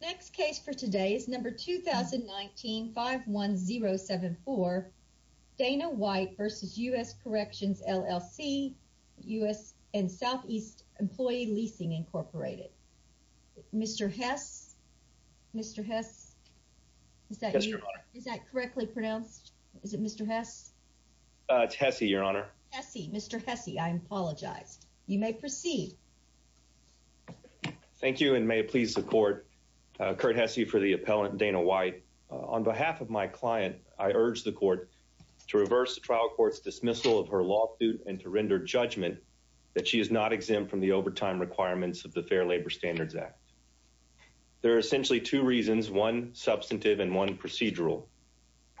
Next case for today is number 2019-51074. Dana White versus U.S. Corrections, L.L.C., U.S. and Southeast Employee Leasing Incorporated. Mr. Hess, Mr. Hess, is that you? Yes, Your Honor. Is that correctly pronounced? Is it Mr. Hess? It's Hesse, Your Honor. Hesse, Mr. Hesse. I apologize. You may proceed. Thank you, and may it please the Court, Curt Hesse for the appellant, Dana White. On behalf of my client, I urge the Court to reverse the trial court's dismissal of her law suit and to render judgment that she is not exempt from the overtime requirements of the Fair Labor Standards Act. There are essentially two reasons, one substantive and one procedural.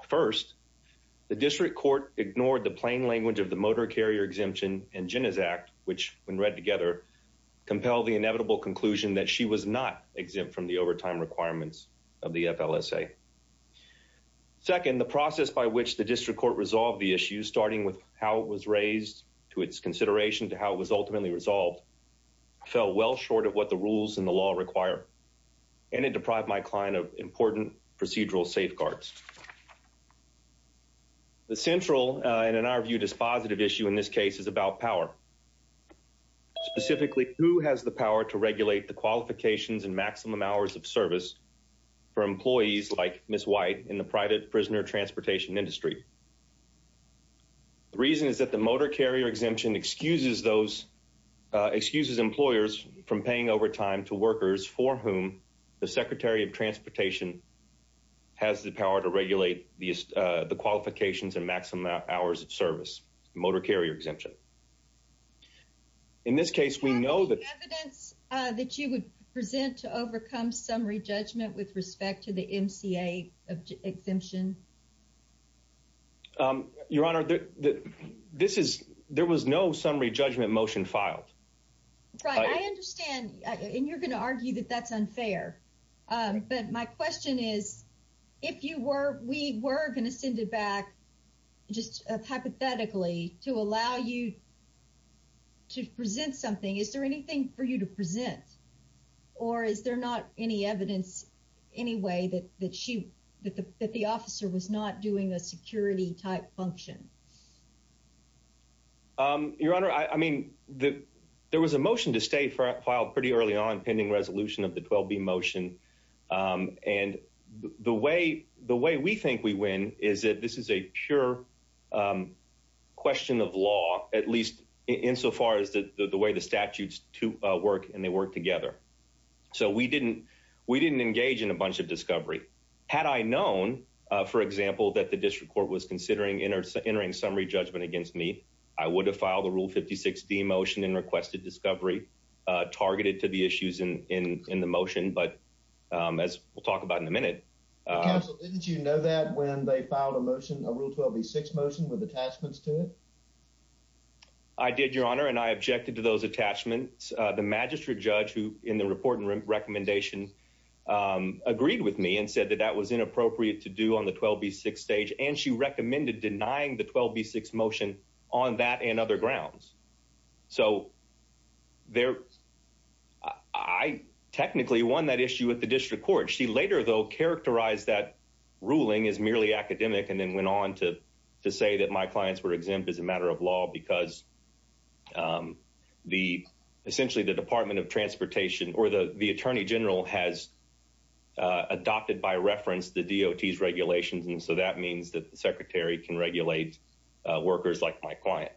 First, the district court ignored the plain language of the Motor Carrier Exemption and compelled the inevitable conclusion that she was not exempt from the overtime requirements of the FLSA. Second, the process by which the district court resolved the issue, starting with how it was raised to its consideration to how it was ultimately resolved, fell well short of what the rules and the law require, and it deprived my client of important procedural safeguards. The central and, in our view, dispositive issue in this case is about power, specifically who has the power to regulate the qualifications and maximum hours of service for employees like Ms. White in the private prisoner transportation industry. The reason is that the Motor Carrier Exemption excuses those, excuses employers from paying overtime to workers for whom the Secretary of Transportation has the power to regulate the qualifications and maximum hours of service, Motor Carrier Exemption. In this case, we know that evidence that you would present to overcome summary judgment with respect to the MCA exemption. Your Honor, there was no summary judgment motion filed. Right, I understand, and you're going to argue that that's unfair, but my question is, if you were, we were going to send it back just hypothetically to allow you to present something, is there anything for you to present, or is there not any evidence anyway that the officer was not doing a security-type function? Your Honor, I mean, there was a motion to stay filed pretty early on, pending resolution of the 12B motion, and the way we think we win is that this is a pure question of law, at least insofar as the way the statutes work, and they work together. So, we didn't engage in a bunch of discovery. Had I known, for example, that the District Court was considering entering summary judgment against me, I would have filed a Rule 56D motion and requested discovery targeted to the issues in the motion, but as we'll talk about in a minute. Counsel, didn't you know that when they filed a motion, a Rule 12B6 motion with attachments to it? I did, Your Honor, and I objected to those attachments. The magistrate judge who, in the report and recommendation, agreed with me and said that that was inappropriate to do on the 12B6 stage, and she recommended denying the 12B6 motion on that and other grounds. So, I technically won that issue at the District Court. She later, though, characterized that and then went on to say that my clients were exempt as a matter of law because essentially the Department of Transportation or the Attorney General has adopted by reference the DOT's regulations, and so that means that the Secretary can regulate workers like my client.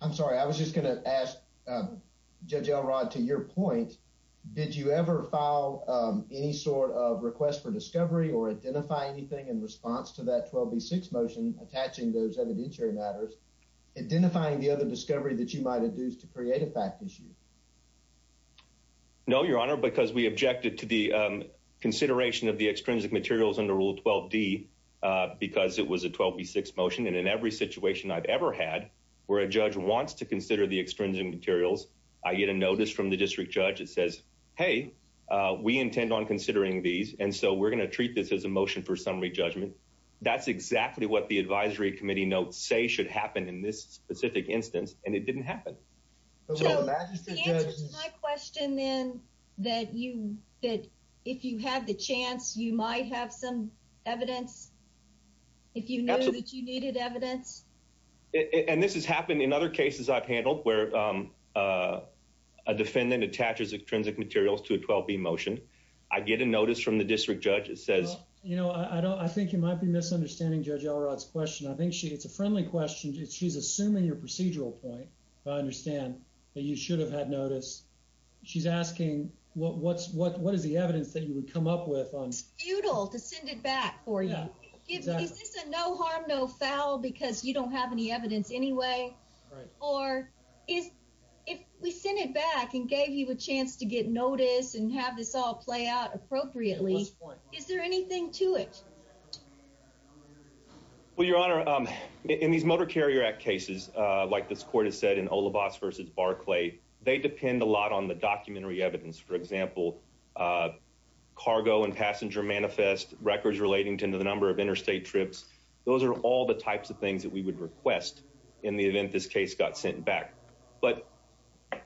I'm sorry. I was just going to ask Judge Elrod, to your point, did you ever file any sort of request for discovery or identify anything in response to that 12B6 motion attaching those evidentiary matters, identifying the other discovery that you might have used to create a fact issue? No, Your Honor, because we objected to the consideration of the extrinsic materials under Rule 12D because it was a 12B6 motion, and in every situation I've ever had where a judge wants to consider the extrinsic materials, I get a notice from the district judge that says, hey, we intend on considering these, and so we're going to treat this as a motion for summary judgment. That's exactly what the advisory committee notes say should happen in this specific instance, and it didn't happen. So, the answer to my question, then, that if you have the chance, you might have some evidence, if you knew that you needed evidence? And this happened in other cases I've handled where a defendant attaches extrinsic materials to a 12B motion. I get a notice from the district judge that says... I think you might be misunderstanding Judge Elrod's question. I think it's a friendly question. She's assuming your procedural point, but I understand that you should have had notice. She's asking, what is the evidence that you would come up with on... It's futile to send it back for you. Is this a no harm, no foul because you don't have any evidence anyway? Or, if we sent it back and gave you a chance to get notice and have this all play out appropriately, is there anything to it? Well, Your Honor, in these Motor Carrier Act cases, like this court has said in Olivas v. Barclay, they depend a lot on the documentary evidence. For example, cargo and passenger manifest records relating to the number of requests in the event this case got sent back. But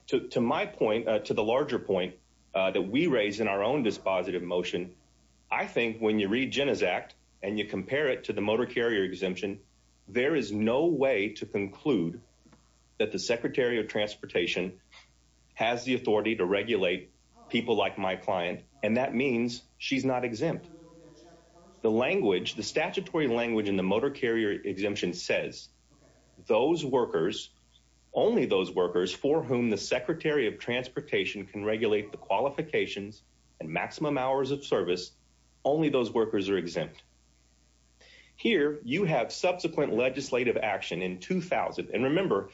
to my point, to the larger point that we raise in our own dispositive motion, I think when you read Jenna's act and you compare it to the Motor Carrier Exemption, there is no way to conclude that the Secretary of Transportation has the authority to regulate people like my client, and that means she's not exempt. The language, the statutory language in the Motor Carrier Exemption says, those workers, only those workers for whom the Secretary of Transportation can regulate the qualifications and maximum hours of service, only those workers are exempt. Here, you have subsequent legislative action in 2000. And remember,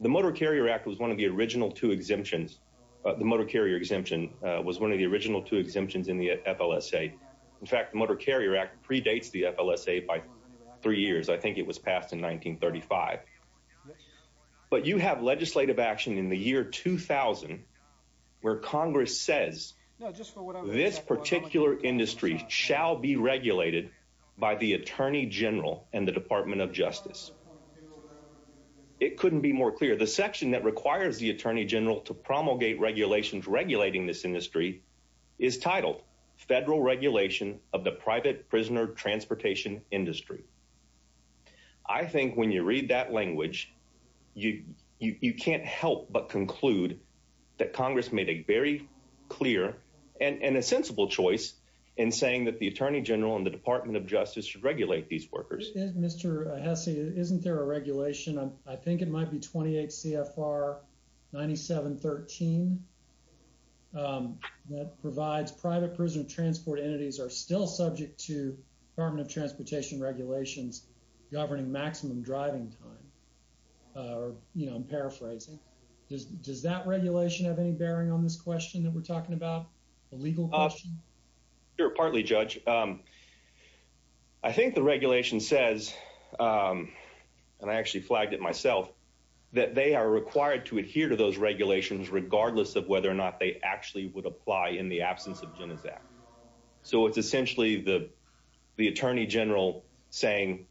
the Motor Carrier Act was one of the original two exemptions. The Motor Carrier Exemption was one of the original two exemptions in the FLSA. In fact, the Motor Carrier Act predates the FLSA by three years. I think it was passed in 1935. But you have legislative action in the year 2000, where Congress says this particular industry shall be regulated by the Attorney General and the Department of Justice. It couldn't be more clear. The section that requires the Attorney General to promulgate regulations regulating this industry is titled Federal Regulation of the Private Prisoner Transportation Industry. I think when you read that language, you can't help but conclude that Congress made a very clear and a sensible choice in saying that the Attorney General and the Department of Justice should regulate these workers. Mr. Hesse, isn't there a regulation, I think it might be 28 CFR 9713, that provides private prisoner transport entities are still subject to Department of Transportation regulations governing maximum driving time. You know, I'm paraphrasing. Does that regulation have any bearing on this question that we're talking about, a legal question? Sure, partly, Judge. I think the regulation says, and I actually flagged it myself, that they are required to adhere to those regulations regardless of whether or not they actually would apply in the absence of Genizac. So it's essentially the Attorney General saying,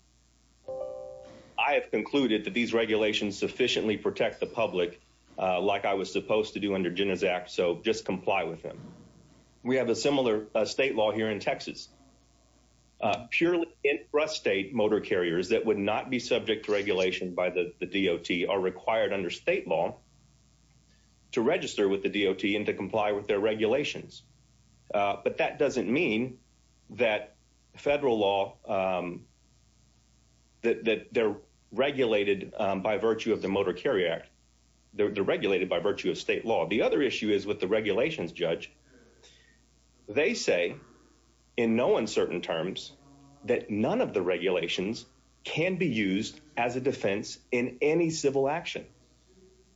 I have concluded that these regulations sufficiently protect the public, like I was supposed to do under Genizac, so just comply with them. We have a similar state law here in Texas. Purely intrastate motor carriers that would not be subject to regulation by the DOT are required under state law to register with the DOT and to comply with their regulations. But that doesn't mean that they're regulated by virtue of the Motor Carrier Act. They're regulated by virtue of state law. The other issue is with the regulations, Judge. They say in no uncertain terms that none of the regulations can be used as a defense in any civil action.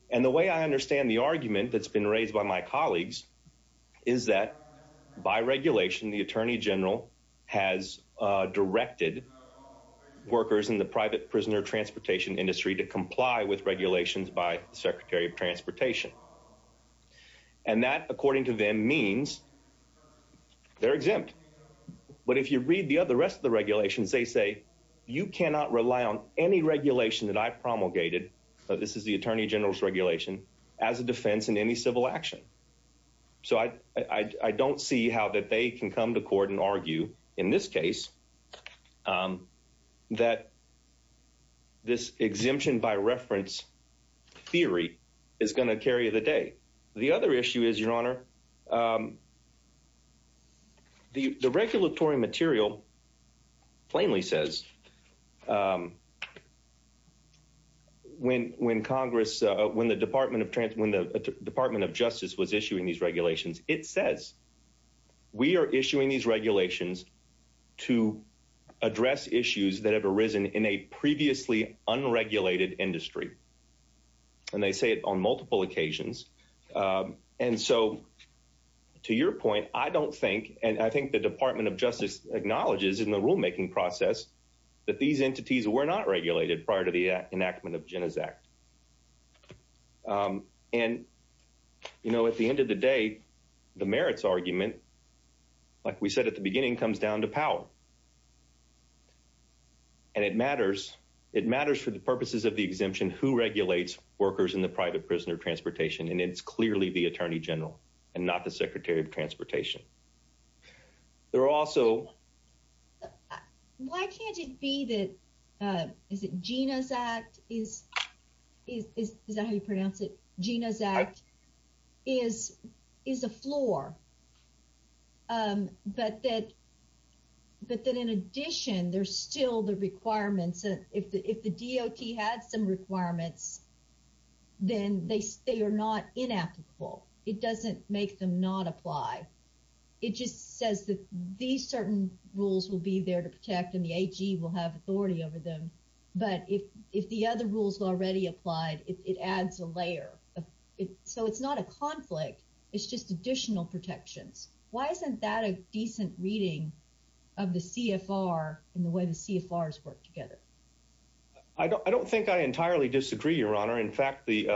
And the way I understand the argument that's been raised by my colleagues is that by regulation, the Attorney General has directed workers in the private prisoner transportation industry to comply with regulations by the Secretary of Transportation. And that, according to them, means they're exempt. But if you read the other rest of the regulations, they say you cannot rely on any regulation that I promulgated, but this is the Attorney General's regulation, as a defense in any civil action. So I don't see how that they can come to court and argue in this case that this exemption by reference theory is going to carry the day. The other issue is, Your Honor, the regulatory material plainly says when Congress, when the Department of Justice was issuing these regulations, it says we are issuing these regulations to address issues that have arisen in a previously unregulated industry. And they say it on multiple occasions. And so to your point, I don't think, and I think the Department of Justice acknowledges in the rulemaking process, that these entities were not regulated prior to the enactment of Jenna's Act. And, you know, at the end of the day, the merits argument, like we said at the beginning, comes down to power. And it matters. It matters for the purposes of the exemption who regulates workers in the private prisoner transportation, and it's clearly the Attorney General, and not the Secretary of Transportation. There are also... Is it Gina's Act? Is that how you pronounce it? Gina's Act is a floor. But that in addition, there's still the requirements. If the DOT had some requirements, then they are not inapplicable. It doesn't make them not apply. It just says that these certain rules will be there to protect and the AG will have authority over them. But if the other rules already applied, it adds a layer. So it's not a conflict. It's just additional protections. Why isn't that a decent reading of the CFR and the way the CFRs work together? I don't think I entirely disagree, Your Honor. In fact, the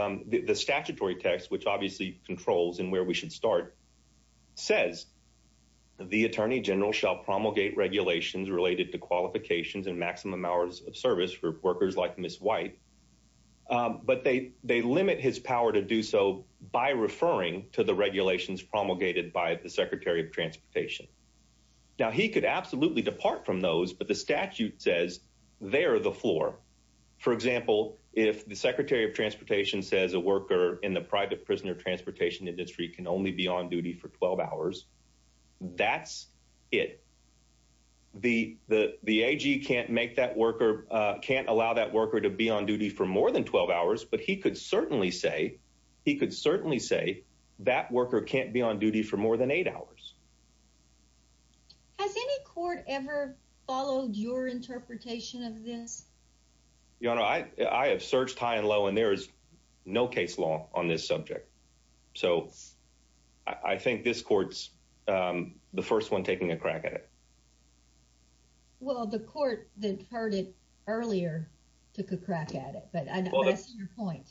statutory text, which obviously controls in where we should start, says the Attorney General shall promulgate regulations related to qualifications and maximum hours of service for workers like Ms. White. But they limit his power to do so by referring to the regulations promulgated by the Secretary of Transportation. Now, he could absolutely depart from those, but the statute says they are the For example, if the Secretary of Transportation says a worker in the private prisoner transportation industry can only be on duty for 12 hours, that's it. The AG can't make that worker, can't allow that worker to be on duty for more than 12 hours, but he could certainly say, he could certainly say that worker can't be on duty for more than eight hours. Has any court ever followed your interpretation of this? Your Honor, I have searched high and low, and there is no case law on this subject. So I think this court's the first one taking a crack at it. Well, the court that heard it earlier took a crack at it, but I know that's your point.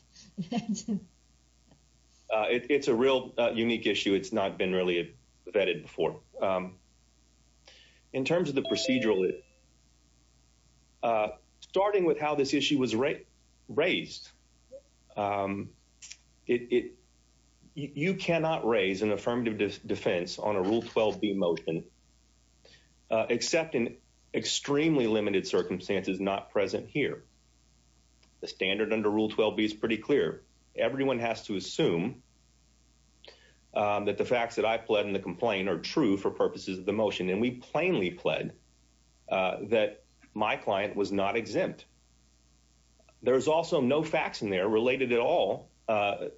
It's a real unique issue. It's not been really vetted before. In terms of the procedural, starting with how this issue was raised, you cannot raise an affirmative defense on a Rule 12b motion, except in extremely limited circumstances not present here. The standard under Rule 12b is pretty clear. Everyone has to assume that the facts that I pled in the complaint are true for purposes of the motion, and we plainly pled that my client was not exempt. There's also no facts in there related at all to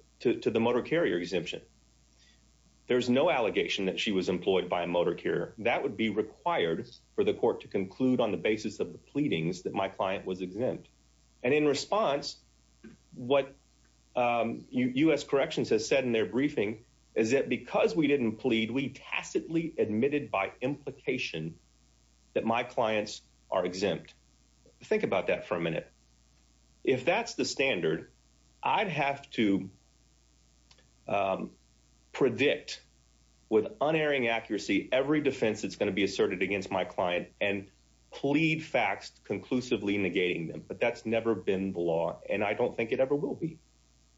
the motor carrier exemption. There's no allegation that she was employed by a motor carrier. That would be And in response, what U.S. Corrections has said in their briefing is that because we didn't plead, we tacitly admitted by implication that my clients are exempt. Think about that for a minute. If that's the standard, I'd have to predict with unerring accuracy every defense that's going to be asserted against my client and plead facts conclusively negating them. But that's never been the law, and I don't think it ever will be.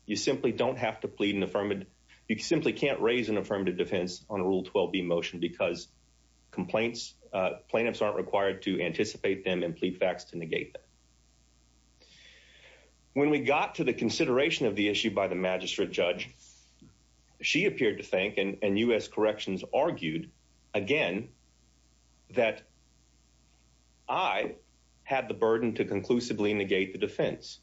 You simply don't have to plead an affirmative. You simply can't raise an affirmative defense on a Rule 12b motion because complaints plaintiffs aren't required to anticipate them and plead facts to negate them. When we got to the consideration of the issue by the magistrate judge, she appeared to think, and U.S. Corrections argued again, that I had the burden to conclusively negate the defense.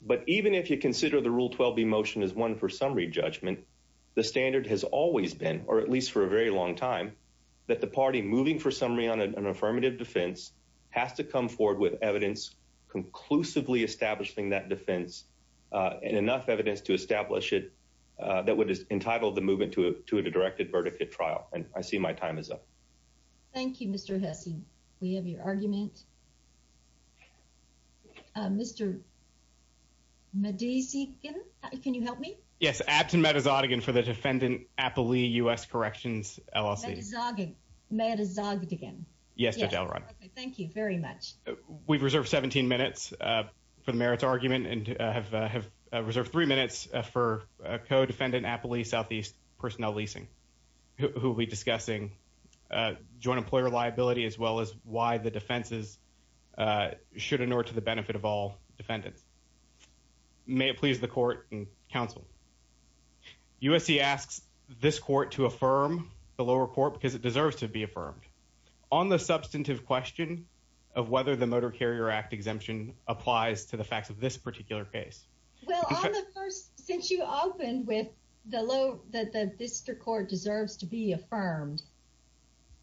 But even if you consider the Rule 12b motion is one for summary judgment, the standard has always been, or at least for a very long time, that the party moving for summary on an affirmative defense has to come forward with evidence conclusively establishing that defense and enough evidence to establish it that would entitle the movement to a directed verdicate trial. And I see my time is up. Thank you, Mr. Hesse. We have your argument. Mr. Medesigan, can you help me? Yes, Abt and Medesagan for the defendant Applee U.S. Corrections LLC. Medesagan. Medesagan. Yes, Judge Elrod. Thank you very much. We've reserved 17 minutes for the merits argument and have reserved three minutes for co-defendant Applee Southeast Personnel Leasing, who will be discussing joint employer liability as well as why the defenses should in order to the benefit of all defendants. May it please the court and counsel. USC asks this court to affirm the lower court because it deserves to be affirmed on the substantive question of whether the Motor Carrier Act applies to the facts of this particular case. Well, on the first since you opened with the low that the district court deserves to be affirmed.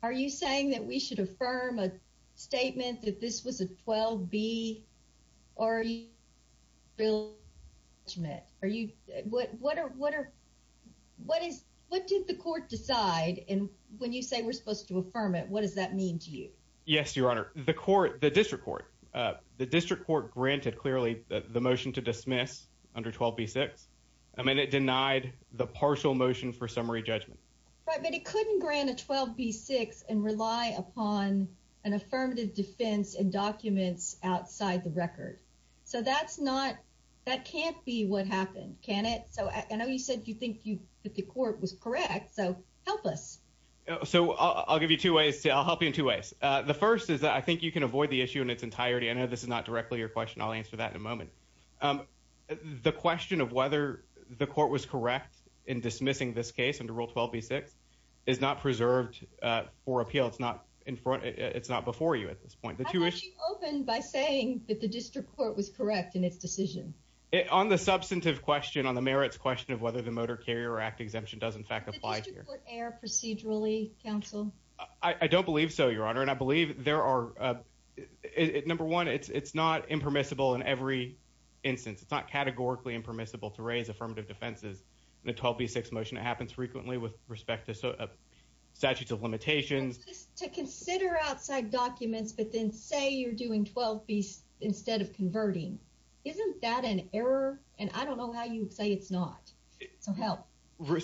Are you saying that we should affirm a statement that this was a 12 B or real? Are you what? What are what are what is what did the court decide? And when you say we're supposed to affirm it, what does that mean to you? Yes, Your Honor, the court, the district court, the district court granted clearly the motion to dismiss under 12 B6. I mean, it denied the partial motion for summary judgment, but it couldn't grant a 12 B6 and rely upon an affirmative defense and documents outside the record. So that's not that can't be what happened, can it? So I know you said you think you that the first is that I think you can avoid the issue in its entirety. I know this is not directly your question. I'll answer that in a moment. The question of whether the court was correct in dismissing this case under Rule 12 B6 is not preserved for appeal. It's not in front. It's not before you at this point that you open by saying that the district court was correct in its decision on the substantive question on the merits question of whether the Motor Carrier Act exemption does, in fact, apply here procedurally. Counsel, I don't believe so, Your Honor, and I believe there are. Number one, it's not impermissible in every instance. It's not categorically impermissible to raise affirmative defenses in a 12 B6 motion. It happens frequently with respect to statutes of limitations to consider outside documents, but then say you're doing 12 B instead of converting. Isn't that an error? And I don't know how you say it's not so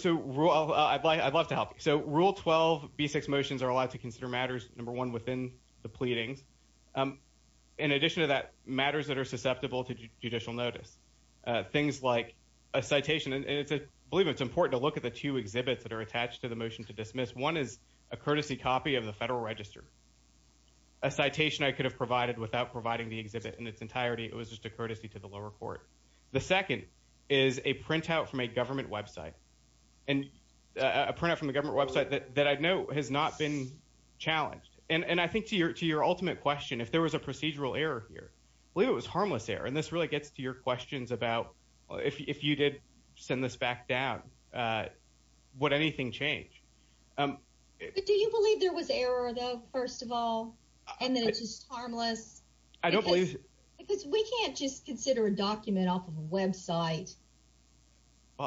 well. I'd like I'd love to help. So Rule 12 B6 motions are allowed to consider matters number one within the pleadings. In addition to that matters that are susceptible to judicial notice, things like a citation, and it's a believe it's important to look at the two exhibits that are attached to the motion to dismiss. One is a courtesy copy of the Federal Register, a citation I could have provided without providing the exhibit in its entirety. It was just a and a printout from the government website that I know has not been challenged. And I think to your to your ultimate question, if there was a procedural error here, believe it was harmless error. And this really gets to your questions about if you did send this back down, would anything change? Do you believe there was error, though, first of all, and that it's just harmless? I don't believe because we can't just consider a document off of a website.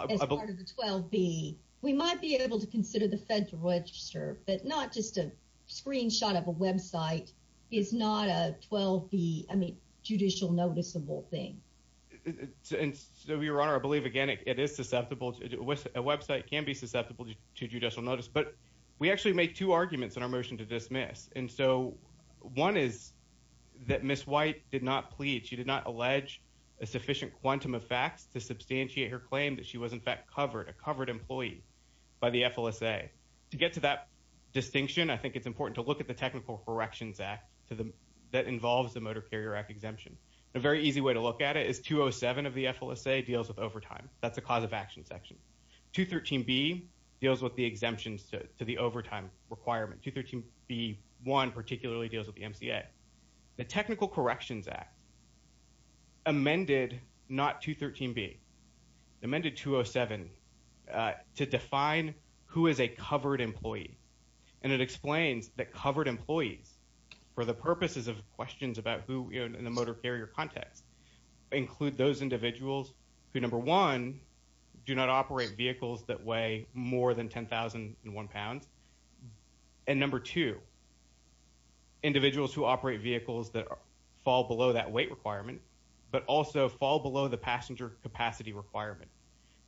As part of the 12 B, we might be able to consider the Federal Register, but not just a screenshot of a website is not a 12 B. I mean, judicial noticeable thing. And so your honor, I believe, again, it is susceptible to a website can be susceptible to judicial notice. But we actually make two arguments in our motion to dismiss. And so one is that Miss White did not plead. She did not allege a sufficient quantum of facts to substantiate her claim that she was, in fact, covered a covered employee by the FLSA. To get to that distinction, I think it's important to look at the Technical Corrections Act to the that involves the Motor Carrier Act exemption. A very easy way to look at it is 207 of the FLSA deals with overtime. That's a cause of action section to 13 B deals with the exemptions to the overtime requirement to 13 B. One particularly deals with the MCA. The Technical Corrections Act amended not to 13 B amended 207 to define who is a covered employee. And it explains that covered employees for the purposes of questions about who in the motor carrier context include those individuals who number one, do not operate vehicles that way more than 10,001 pounds and number two, individuals who operate vehicles that fall below that weight requirement, but also fall below the passenger capacity requirement.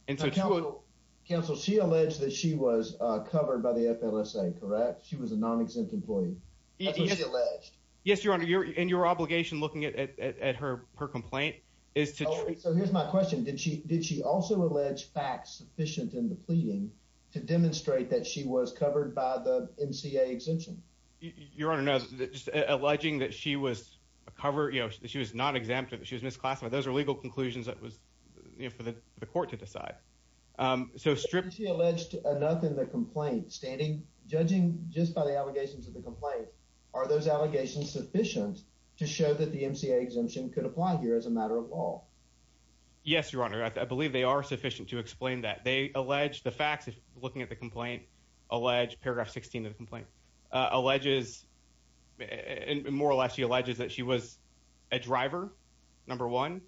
And so to counsel, she alleged that she was covered by the FLSA. Correct. She was a non exempt employee. He is alleged. Yes, your honor. You're in your obligation. Looking at her. Her complaint is to. So here's my question. Did she? Did she also allege facts sufficient in the pleading to demonstrate that she was covered by the MCA exemption? You're on another alleging that she was a cover. You know she was not exempted. She was misclassified. Those are legal conclusions. That was for the court to decide so stripped. She alleged enough in the complaint standing judging just by the allegations of the complaint. Are those allegations sufficient to show that the MCA exemption could apply here as a matter of law? Yes, your honor. I believe they are sufficient to explain that they allege the facts. If looking at the complaint allege paragraph 16 of the complaint alleges. And more or less, he alleges that she was a driver number one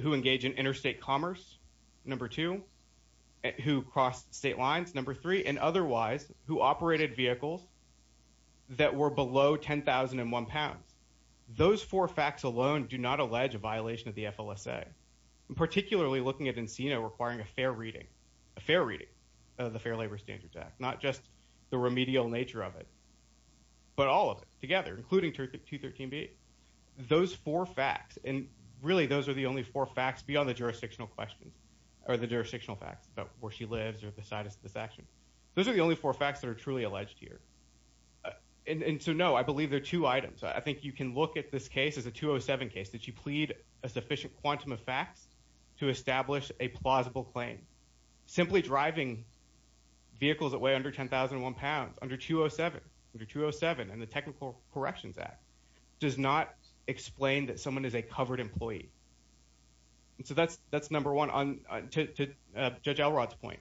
who engaged in interstate commerce number two who crossed state lines number three and otherwise who operated vehicles that were below 10,001 pounds. Those four facts alone do not allege a violation of the FLSA. Particularly looking at Encino requiring a fair reading. A fair reading of the Fair Labor Standards Act. Not just the remedial nature of it, but all of it together including 213b. Those four facts and really those are the only four facts beyond the jurisdictional questions or the jurisdictional facts about where she lives or the status of this action. Those are the only four facts that are truly alleged here. And so no, I believe there are two items. I think you can look at this case as a 207 case that you plead a sufficient quantum of facts to establish a plausible claim. Simply driving vehicles that weigh under 10,001 pounds under 207 under 207 and the Technical Corrections Act does not explain that someone is a covered employee. And so that's number one to Judge Elrod's point.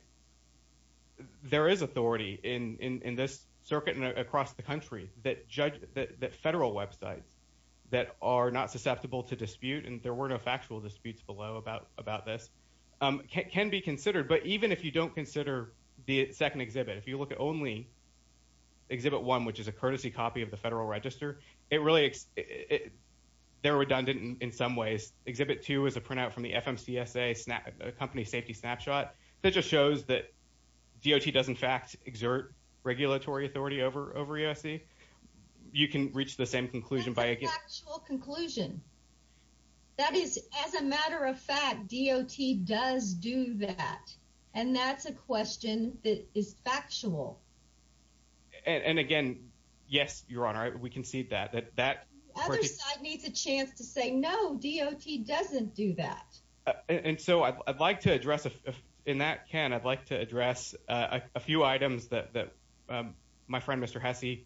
There is authority in this circuit and across the country that federal websites that are not susceptible to dispute and there were no factual disputes below about this can be considered. But even if you don't consider the second exhibit, if you look at only exhibit one which is a courtesy copy of the federal register, they're redundant in some ways. Exhibit two is a printout from the FMCSA company safety snapshot that just shows that DOT does in fact exert regulatory authority over over USC. You can reach the same conclusion. That's a factual conclusion. That is as a matter of fact, DOT does do that, and that's a question that is factual. And again, yes, Your Honor, we can see that that that other side needs a chance to say no, DOT doesn't do that. And so I'd like to address in that can. I'd like to address a few items that that my friend Mr Hesse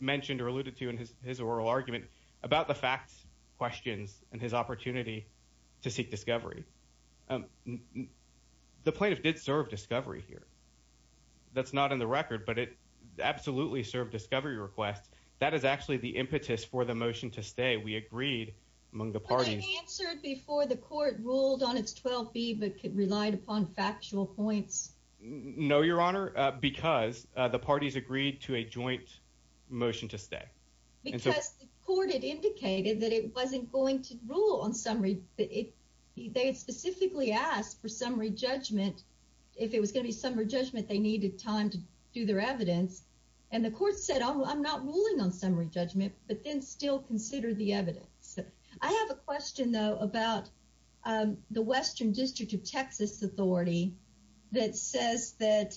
mentioned or alluded to in his oral argument about the facts questions and his opportunity to seek discovery. Um, the plaintiff did serve discovery here. That's not in the record, but it absolutely served discovery request. That is actually the impetus for the motion to stay. We agreed among the parties answered before the court ruled on its 12 B, but could relied upon factual points. No, Your Honor, because the parties agreed to a joint motion to stay because the court indicated that it wasn't going to rule on summary. They specifically asked for summary judgment. If it was going to be summary judgment, they needed time to do their evidence. And the court said, I'm not ruling on summary judgment, but then still consider the evidence. I have a question, though, about the Western District of Texas Authority that says that.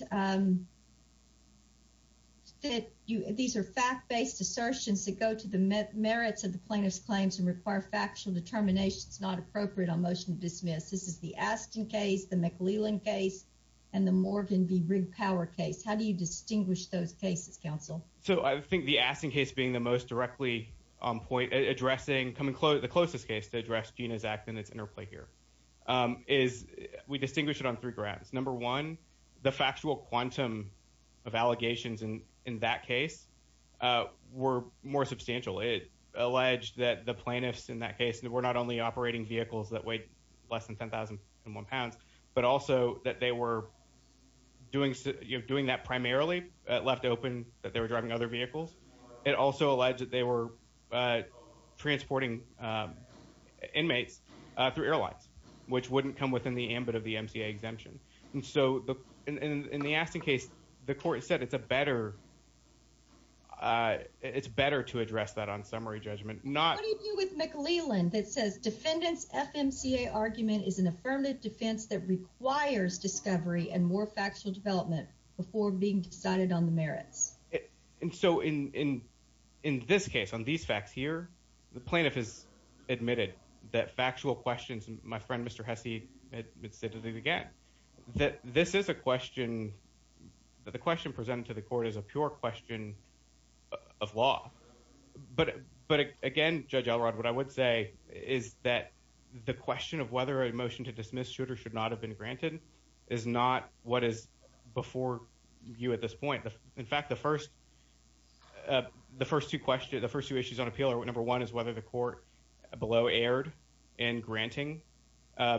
That these are fact based assertions that go to the merits of the plaintiff's claims and require factual determinations not appropriate on motion to dismiss. This is the Aston case, the McLeelan case and the Morgan v. Rigged Power case. How do you distinguish those cases, counsel? So I think the Aston case being the most directly on point addressing coming close, the closest case to address Gina's act and its interplay here is we distinguish it on three quantum of allegations in that case were more substantial. It alleged that the plaintiffs in that case were not only operating vehicles that weighed less than 10,001 pounds, but also that they were doing that primarily left open that they were driving other vehicles. It also alleged that they were transporting inmates through airlines, which wouldn't come within the ambit of the MCA exemption. And so in the Aston case, the court said it's better to address that on summary judgment. What do you do with McLeelan that says defendants FMCA argument is an affirmative defense that requires discovery and more factual development before being decided on the merits? And so in this case, on these facts here, the plaintiff has admitted that factual questions, my friend, Mr. Hesse, had said it again, that this is a question that the question presented to the court is a pure question of law. But again, Judge Elrod, what I would say is that the question of whether a motion to dismiss Schroeder should not have been granted is not what is before you at this point. In fact, the first two questions, the first two issues on appeal are number one is whether the court below erred in granting, or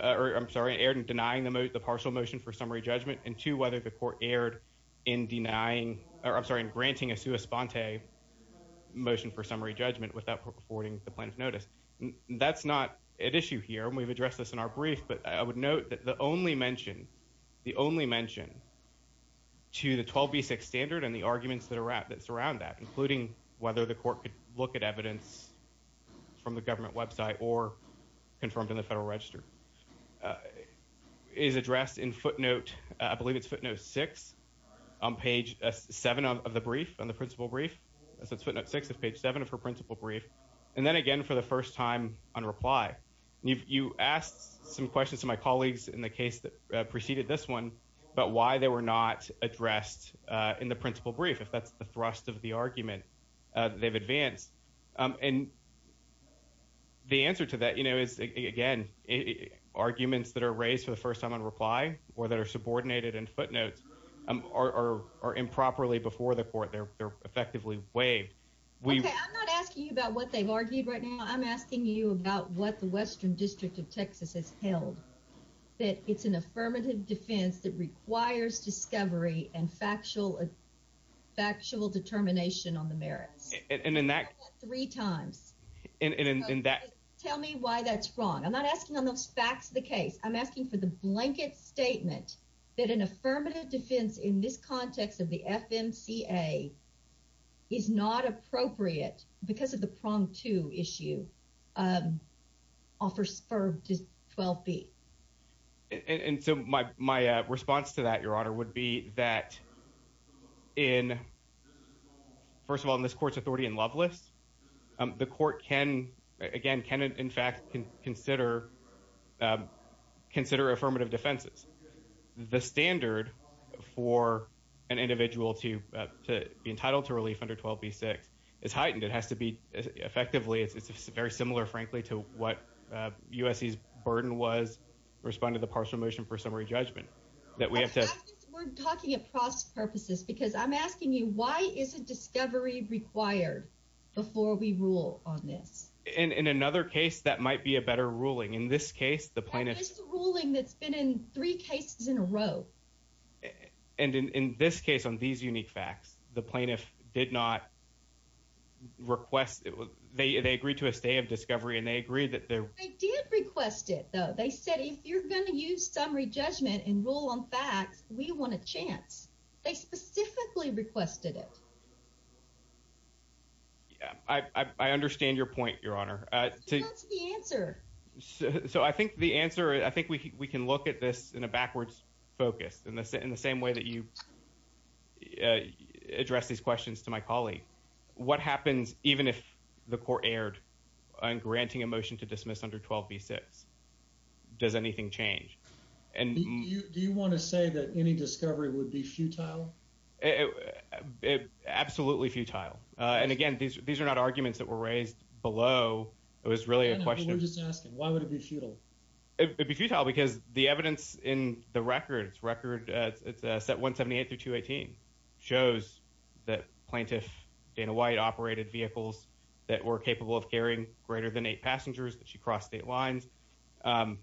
I'm sorry, erred in denying the partial motion for summary judgment, and two, whether the court erred in denying, or I'm sorry, in granting a sua sponte motion for summary judgment without affording the plaintiff notice. That's not at issue here, and we've addressed this in our brief, but I would note that the only mention, the only mention to the 12b6 standard and the arguments that surround that, including whether the court could look at evidence from the government website or confirmed in the federal register, is addressed in footnote, I believe it's footnote six, on page seven of the brief, on the principal brief, that's footnote six of page seven of her principal brief, and then again for the first time on reply. You asked some questions to my colleagues in the case that preceded this one, but why they were not addressed in the principal brief, if that's the thrust of the they've advanced, and the answer to that, you know, is again, arguments that are raised for the first time on reply or that are subordinated in footnotes are improperly before the court. They're effectively waived. Okay, I'm not asking you about what they've argued right now. I'm asking you about what the Western District of Texas has held, that it's an affirmative defense that and in that three times, and in that, tell me why that's wrong. I'm not asking on those facts of the case. I'm asking for the blanket statement that an affirmative defense in this context of the FMCA is not appropriate because of the prong to issue offers for 12b. And so my response to that, in, first of all, in this court's authority in Lovelace, the court can, again, can, in fact, consider, consider affirmative defenses. The standard for an individual to be entitled to relief under 12b-6 is heightened. It has to be effectively, it's very similar, frankly, to what USC's burden was responding to the partial motion for summary judgment. That we have to, we're talking across purposes, because I'm asking you, why is a discovery required before we rule on this? And in another case, that might be a better ruling. In this case, the plaintiff's ruling that's been in three cases in a row. And in this case, on these unique facts, the plaintiff did not request it. They agreed to a stay of discovery, and they agreed that they did request it, though. They said, if you're going to use summary judgment and rule on facts, we want a chance. They specifically requested it. Yeah, I understand your point, Your Honor. That's the answer. So I think the answer, I think we can look at this in a backwards focus, in the same way that you address these questions to my colleague. What happens even if the court erred on granting a 12B6? Does anything change? Do you want to say that any discovery would be futile? Absolutely futile. And again, these are not arguments that were raised below. It was really a question of... We're just asking, why would it be futile? It'd be futile because the evidence in the record, it's record, it's set 178 through 218, shows that plaintiff Dana White operated vehicles that were capable of carrying greater than eight passengers, that she crossed state lines, and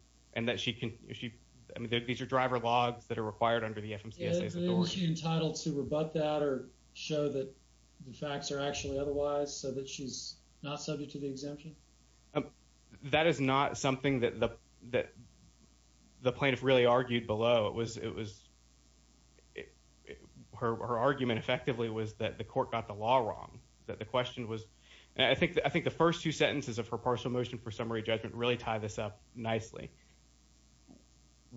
that she can... These are driver logs that are required under the FMCSA's authority. Isn't she entitled to rebut that or show that the facts are actually otherwise, so that she's not subject to the exemption? That is not something that the plaintiff really argued below. Her argument effectively was that the court got the law wrong, that the question was... I think the first two sentences of her partial motion for summary judgment really tie this up nicely.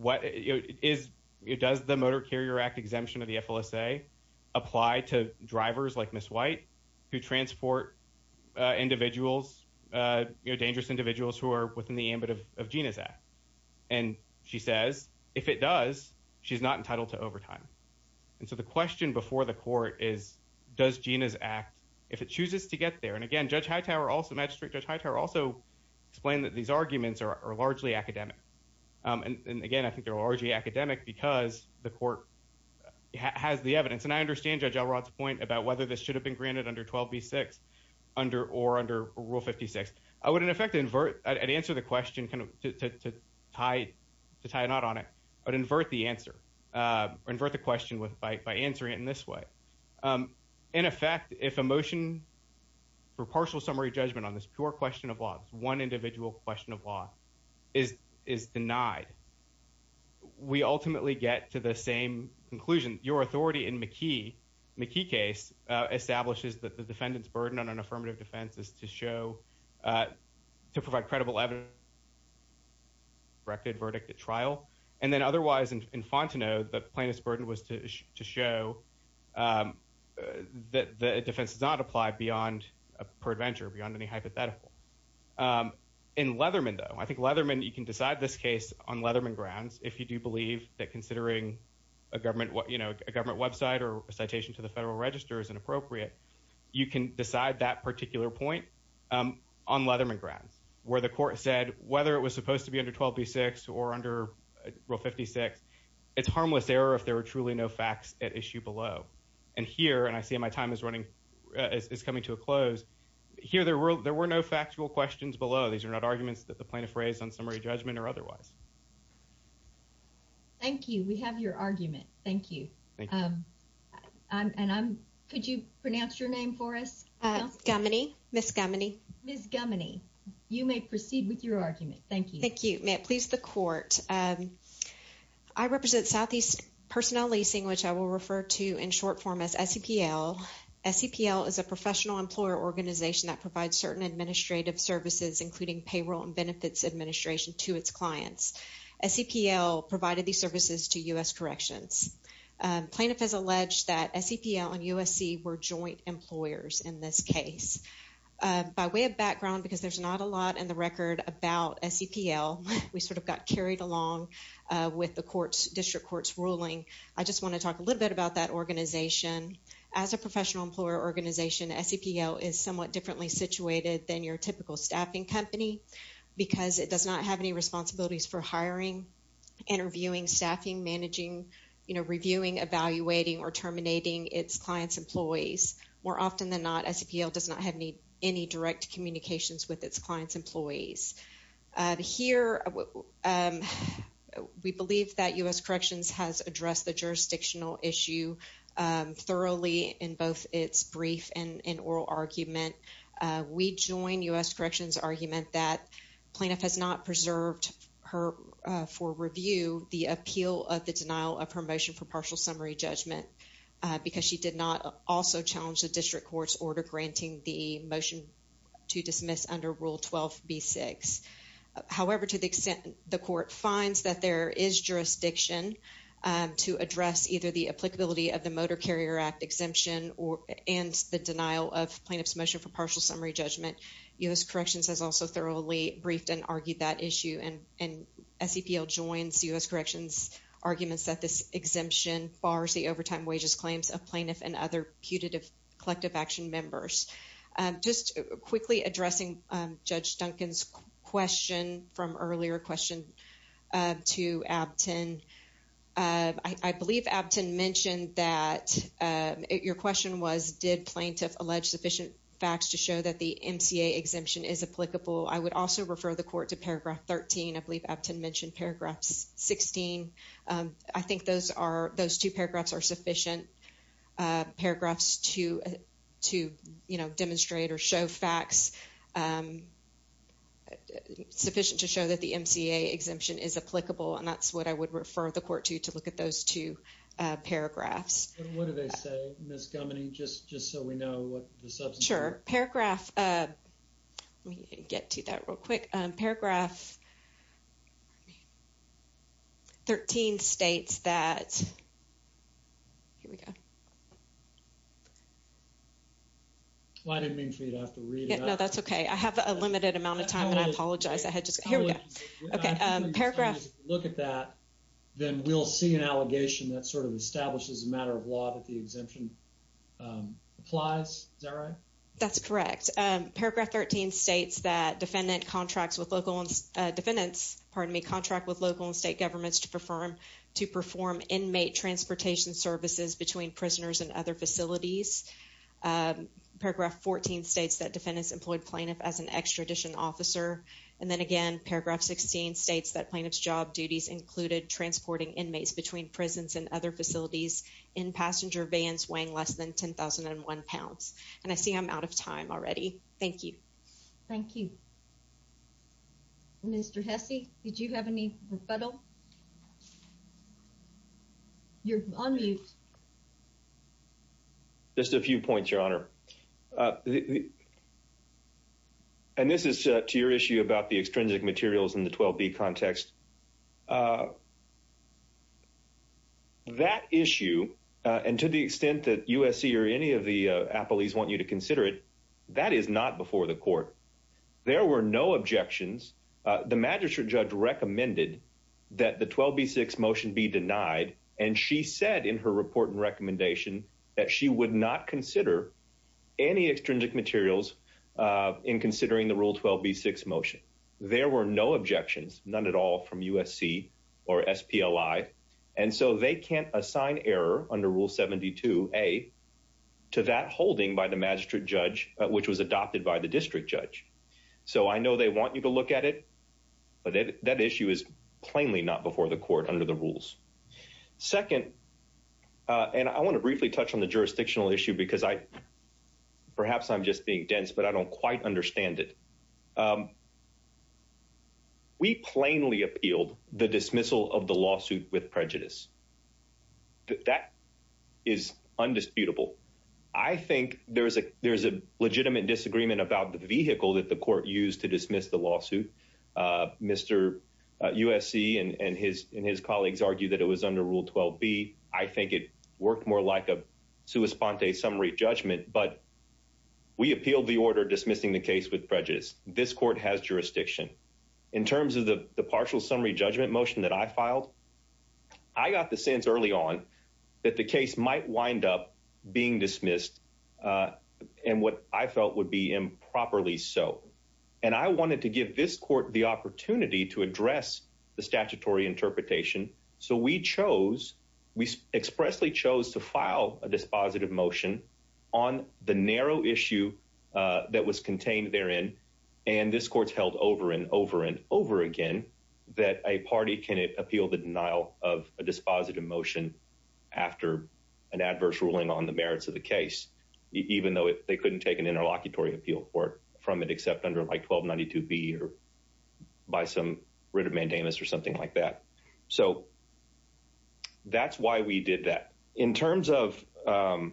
Does the Motor Carrier Act exemption of the FLSA apply to drivers like Ms. White, who transport dangerous individuals who are within the ambit of Gina's act? And she says, if it does, she's not entitled to overtime. And so the question before the court is, does Gina's act, if it chooses to get there... Again, Judge Hightower also... Magistrate Judge Hightower also explained that these arguments are largely academic. And again, I think they're largely academic because the court has the evidence. And I understand Judge Elrod's point about whether this should have been granted under 12B6 or under Rule 56. I would, in effect, invert... I'd answer the question to tie a knot on it. I'd invert the answer, or invert the question by answering it in this way. In effect, if a motion for partial summary judgment on this pure question of law, one individual question of law, is denied, we ultimately get to the same conclusion. Your authority in McKee, McKee case, establishes that the defendant's burden on an affirmative defense is to show... to provide credible evidence... corrected verdict at trial. And then otherwise, in Fontenot, the plaintiff's burden was to show... that the defense does not apply beyond... per adventure, beyond any hypothetical. In Leatherman, though, I think Leatherman... You can decide this case on Leatherman grounds if you do believe that considering a government website or a citation to the Federal Register is inappropriate. You can decide that particular point on Leatherman grounds, where the court said, whether it was supposed to be under 12B6 or under Rule 56, it's harmless error if there are truly no facts at issue below. And here, and I see my time is running... is coming to a close. Here, there were no factual questions below. These are not arguments that the plaintiff raised on summary judgment or otherwise. Thank you. We have your argument. Thank you. And I'm... Could you pronounce your name for us? Gumminy. Ms. Gumminy. Ms. Gumminy. You may proceed with your argument. Thank you. Thank you. May it please the court. I represent Southeast Personnel Leasing, which I will refer to in short form as SEPL. SEPL is a professional employer organization that provides certain administrative services, including payroll and benefits administration to its clients. SEPL provided these services to U.S. Corrections. Plaintiff has alleged that SEPL and USC were joint employers in this case. By way of background, because there's not a lot in the record about SEPL, we sort of got carried along with the court's... district court's ruling. I just want to talk a little bit about that organization. As a professional employer organization, SEPL is somewhat differently situated than your typical staffing company because it does not have any responsibilities for hiring, interviewing, staffing, managing, reviewing, evaluating, or terminating its clients' employees. More often than not, SEPL does not have any direct communications with its clients' employees. Here, we believe that U.S. Corrections has addressed the jurisdictional issue thoroughly in both its brief and in oral argument. We join U.S. Corrections' argument that plaintiff has not preserved her for review the appeal of the denial of her motion for partial summary judgment because she did not also challenge the district court's order granting the motion to dismiss under Rule 12b-6. However, to the extent the court finds that there is jurisdiction to address either the applicability of the Motor Carrier Act exemption and the denial of plaintiff's motion for partial summary judgment, U.S. Corrections has also thoroughly briefed and argued that issue, and SEPL joins U.S. Corrections' arguments that this exemption bars the overtime wages claims of plaintiff and other putative collective action members. Just quickly addressing Judge Duncan's question from earlier question to Abtin. I believe Abtin mentioned that your question was, did plaintiff allege sufficient facts to show that the MCA exemption is applicable? I would also refer the court to paragraph 13. I believe Abtin mentioned paragraph 16. I think those two paragraphs are sufficient. Paragraphs to demonstrate or show facts, sufficient to show that the MCA exemption is applicable, and that's what I would refer the court to, to look at those two paragraphs. What do they say, Ms. Gumany? Just so we know what the substance is. Sure. Paragraph, let me get to that real quick. Paragraph 13 states that, here we go. I didn't mean for you to have to read it. No, that's okay. I have a limited amount of time, and I apologize. I had just, here we go. Okay, paragraph. Look at that, then we'll see an allegation that sort of establishes a matter of law that the exemption applies. Is that right? That's correct. Paragraph 13 states that defendant contracts with local, defendants, pardon me, contract with local and state governments to perform inmate transportation services between prisoners and other facilities. Paragraph 14 states that defendants employed plaintiff as an extradition officer. And then again, paragraph 16 states that plaintiff's job duties included transporting inmates between prisons and other facilities in passenger vans weighing less than 10,001 pounds. And I see I'm out of time already. Thank you. Thank you. Mr. Hesse, did you have any rebuttal? You're on mute. Just a few points, Your Honor. And this is to your issue about the extrinsic materials in the 12B context. That issue, and to the extent that USC or any of the appellees want you to consider it, that is not before the court. There were no objections. The magistrate judge recommended that the 12B6 motion be denied. And she said in her report and recommendation that she would not consider any extrinsic materials in considering the Rule 12B6 motion. There were no objections, none at all from USC or SPLI. And so they can't assign error under Rule 72A to that holding by the magistrate judge, which was adopted by the district judge. So I know they want you to look at it, but that issue is plainly not before the court under the rules. Second, and I want to briefly touch on the jurisdictional issue because perhaps I'm just being dense, but I don't quite understand it. We plainly appealed the dismissal of the lawsuit with prejudice. That is undisputable. I think there's a legitimate disagreement about the vehicle that the court used to dismiss the lawsuit. Mr. USC and his colleagues argue that it was under Rule 12B. I think it worked more like a sua sponte summary judgment, but we appealed the order dismissing the case with prejudice. This court has jurisdiction. In terms of the partial summary judgment motion that I filed, I got the sense early on that the case might wind up being dismissed and what I felt would be improperly so. And I wanted to give this court the opportunity to address the statutory interpretation. So we chose, we expressly chose to file a dispositive motion on the narrow issue that was contained therein. And this court's held over and over and over again that a party can appeal the denial of a dispositive motion after an adverse ruling on the merits of the case, even though they couldn't take an interlocutory appeal for it except under like 1292B or by some writ of mandamus or something like that. So that's why we did that. In terms of the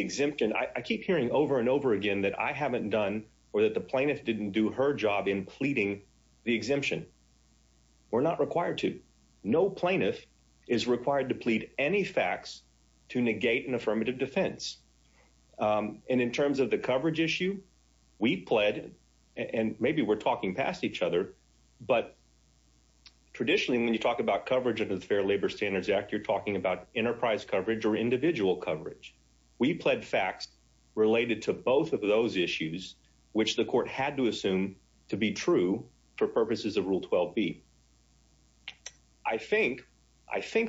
exemption, I keep hearing over and over again that I haven't done or that the plaintiff didn't do her job in pleading the exemption. We're not required to. No plaintiff is required to plead any facts to negate an affirmative defense. And in terms of the coverage issue, we pled and maybe we're talking past each other, but traditionally when you talk about coverage under the Fair Labor Standards Act, you're talking about enterprise coverage or individual coverage. We pled facts related to both of those issues, which the court had to assume to be true for purposes of Rule 12B. I think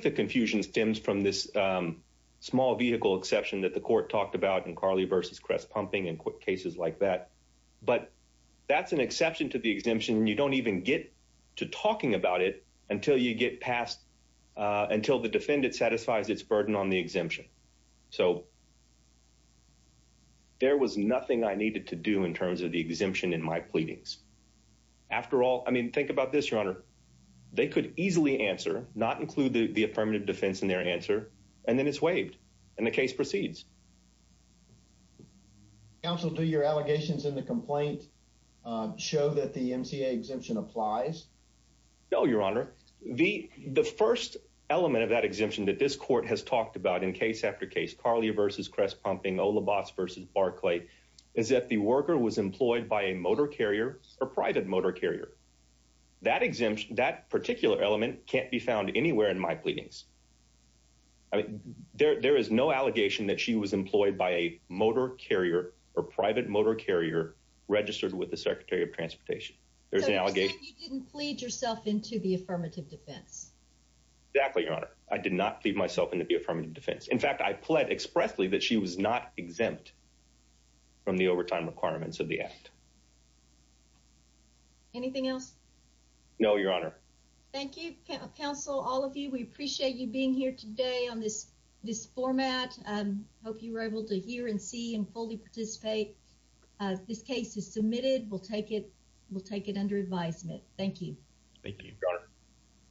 the confusion stems from this small vehicle exception that the court talked about in Carly versus Cress pumping and quick cases like that. But that's an exception to the exemption. You don't even get to talking about it until you get past, until the defendant satisfies its burden on the exemption. So there was nothing I needed to do in terms of the exemption in my pleadings. After all, I mean, think about this, Your Honor. They could easily answer, not include the affirmative defense in their answer, and then it's waived and the case proceeds. Counsel, do your allegations in the complaint show that the MCA exemption applies? No, Your Honor. The first element of that exemption that this court has talked about in case after case, Carly versus Cress pumping, Olibas versus Barclay, is that the worker was employed by a motor carrier or private motor carrier. That exemption, that particular element can't be found anywhere in my pleadings. There is no allegation that she was employed by a motor carrier or private motor carrier registered with the Secretary of Transportation. There's an allegation. So you didn't plead yourself into the affirmative defense. Exactly, Your Honor. I did not plead myself into the affirmative defense. In fact, I pled expressly that she was not exempt from the overtime requirements of the act. Anything else? No, Your Honor. Thank you, counsel, all of you. We appreciate you being here today. This format, I hope you were able to hear and see and fully participate. This case is submitted. We'll take it under advisement. Thank you. Thank you, Your Honor.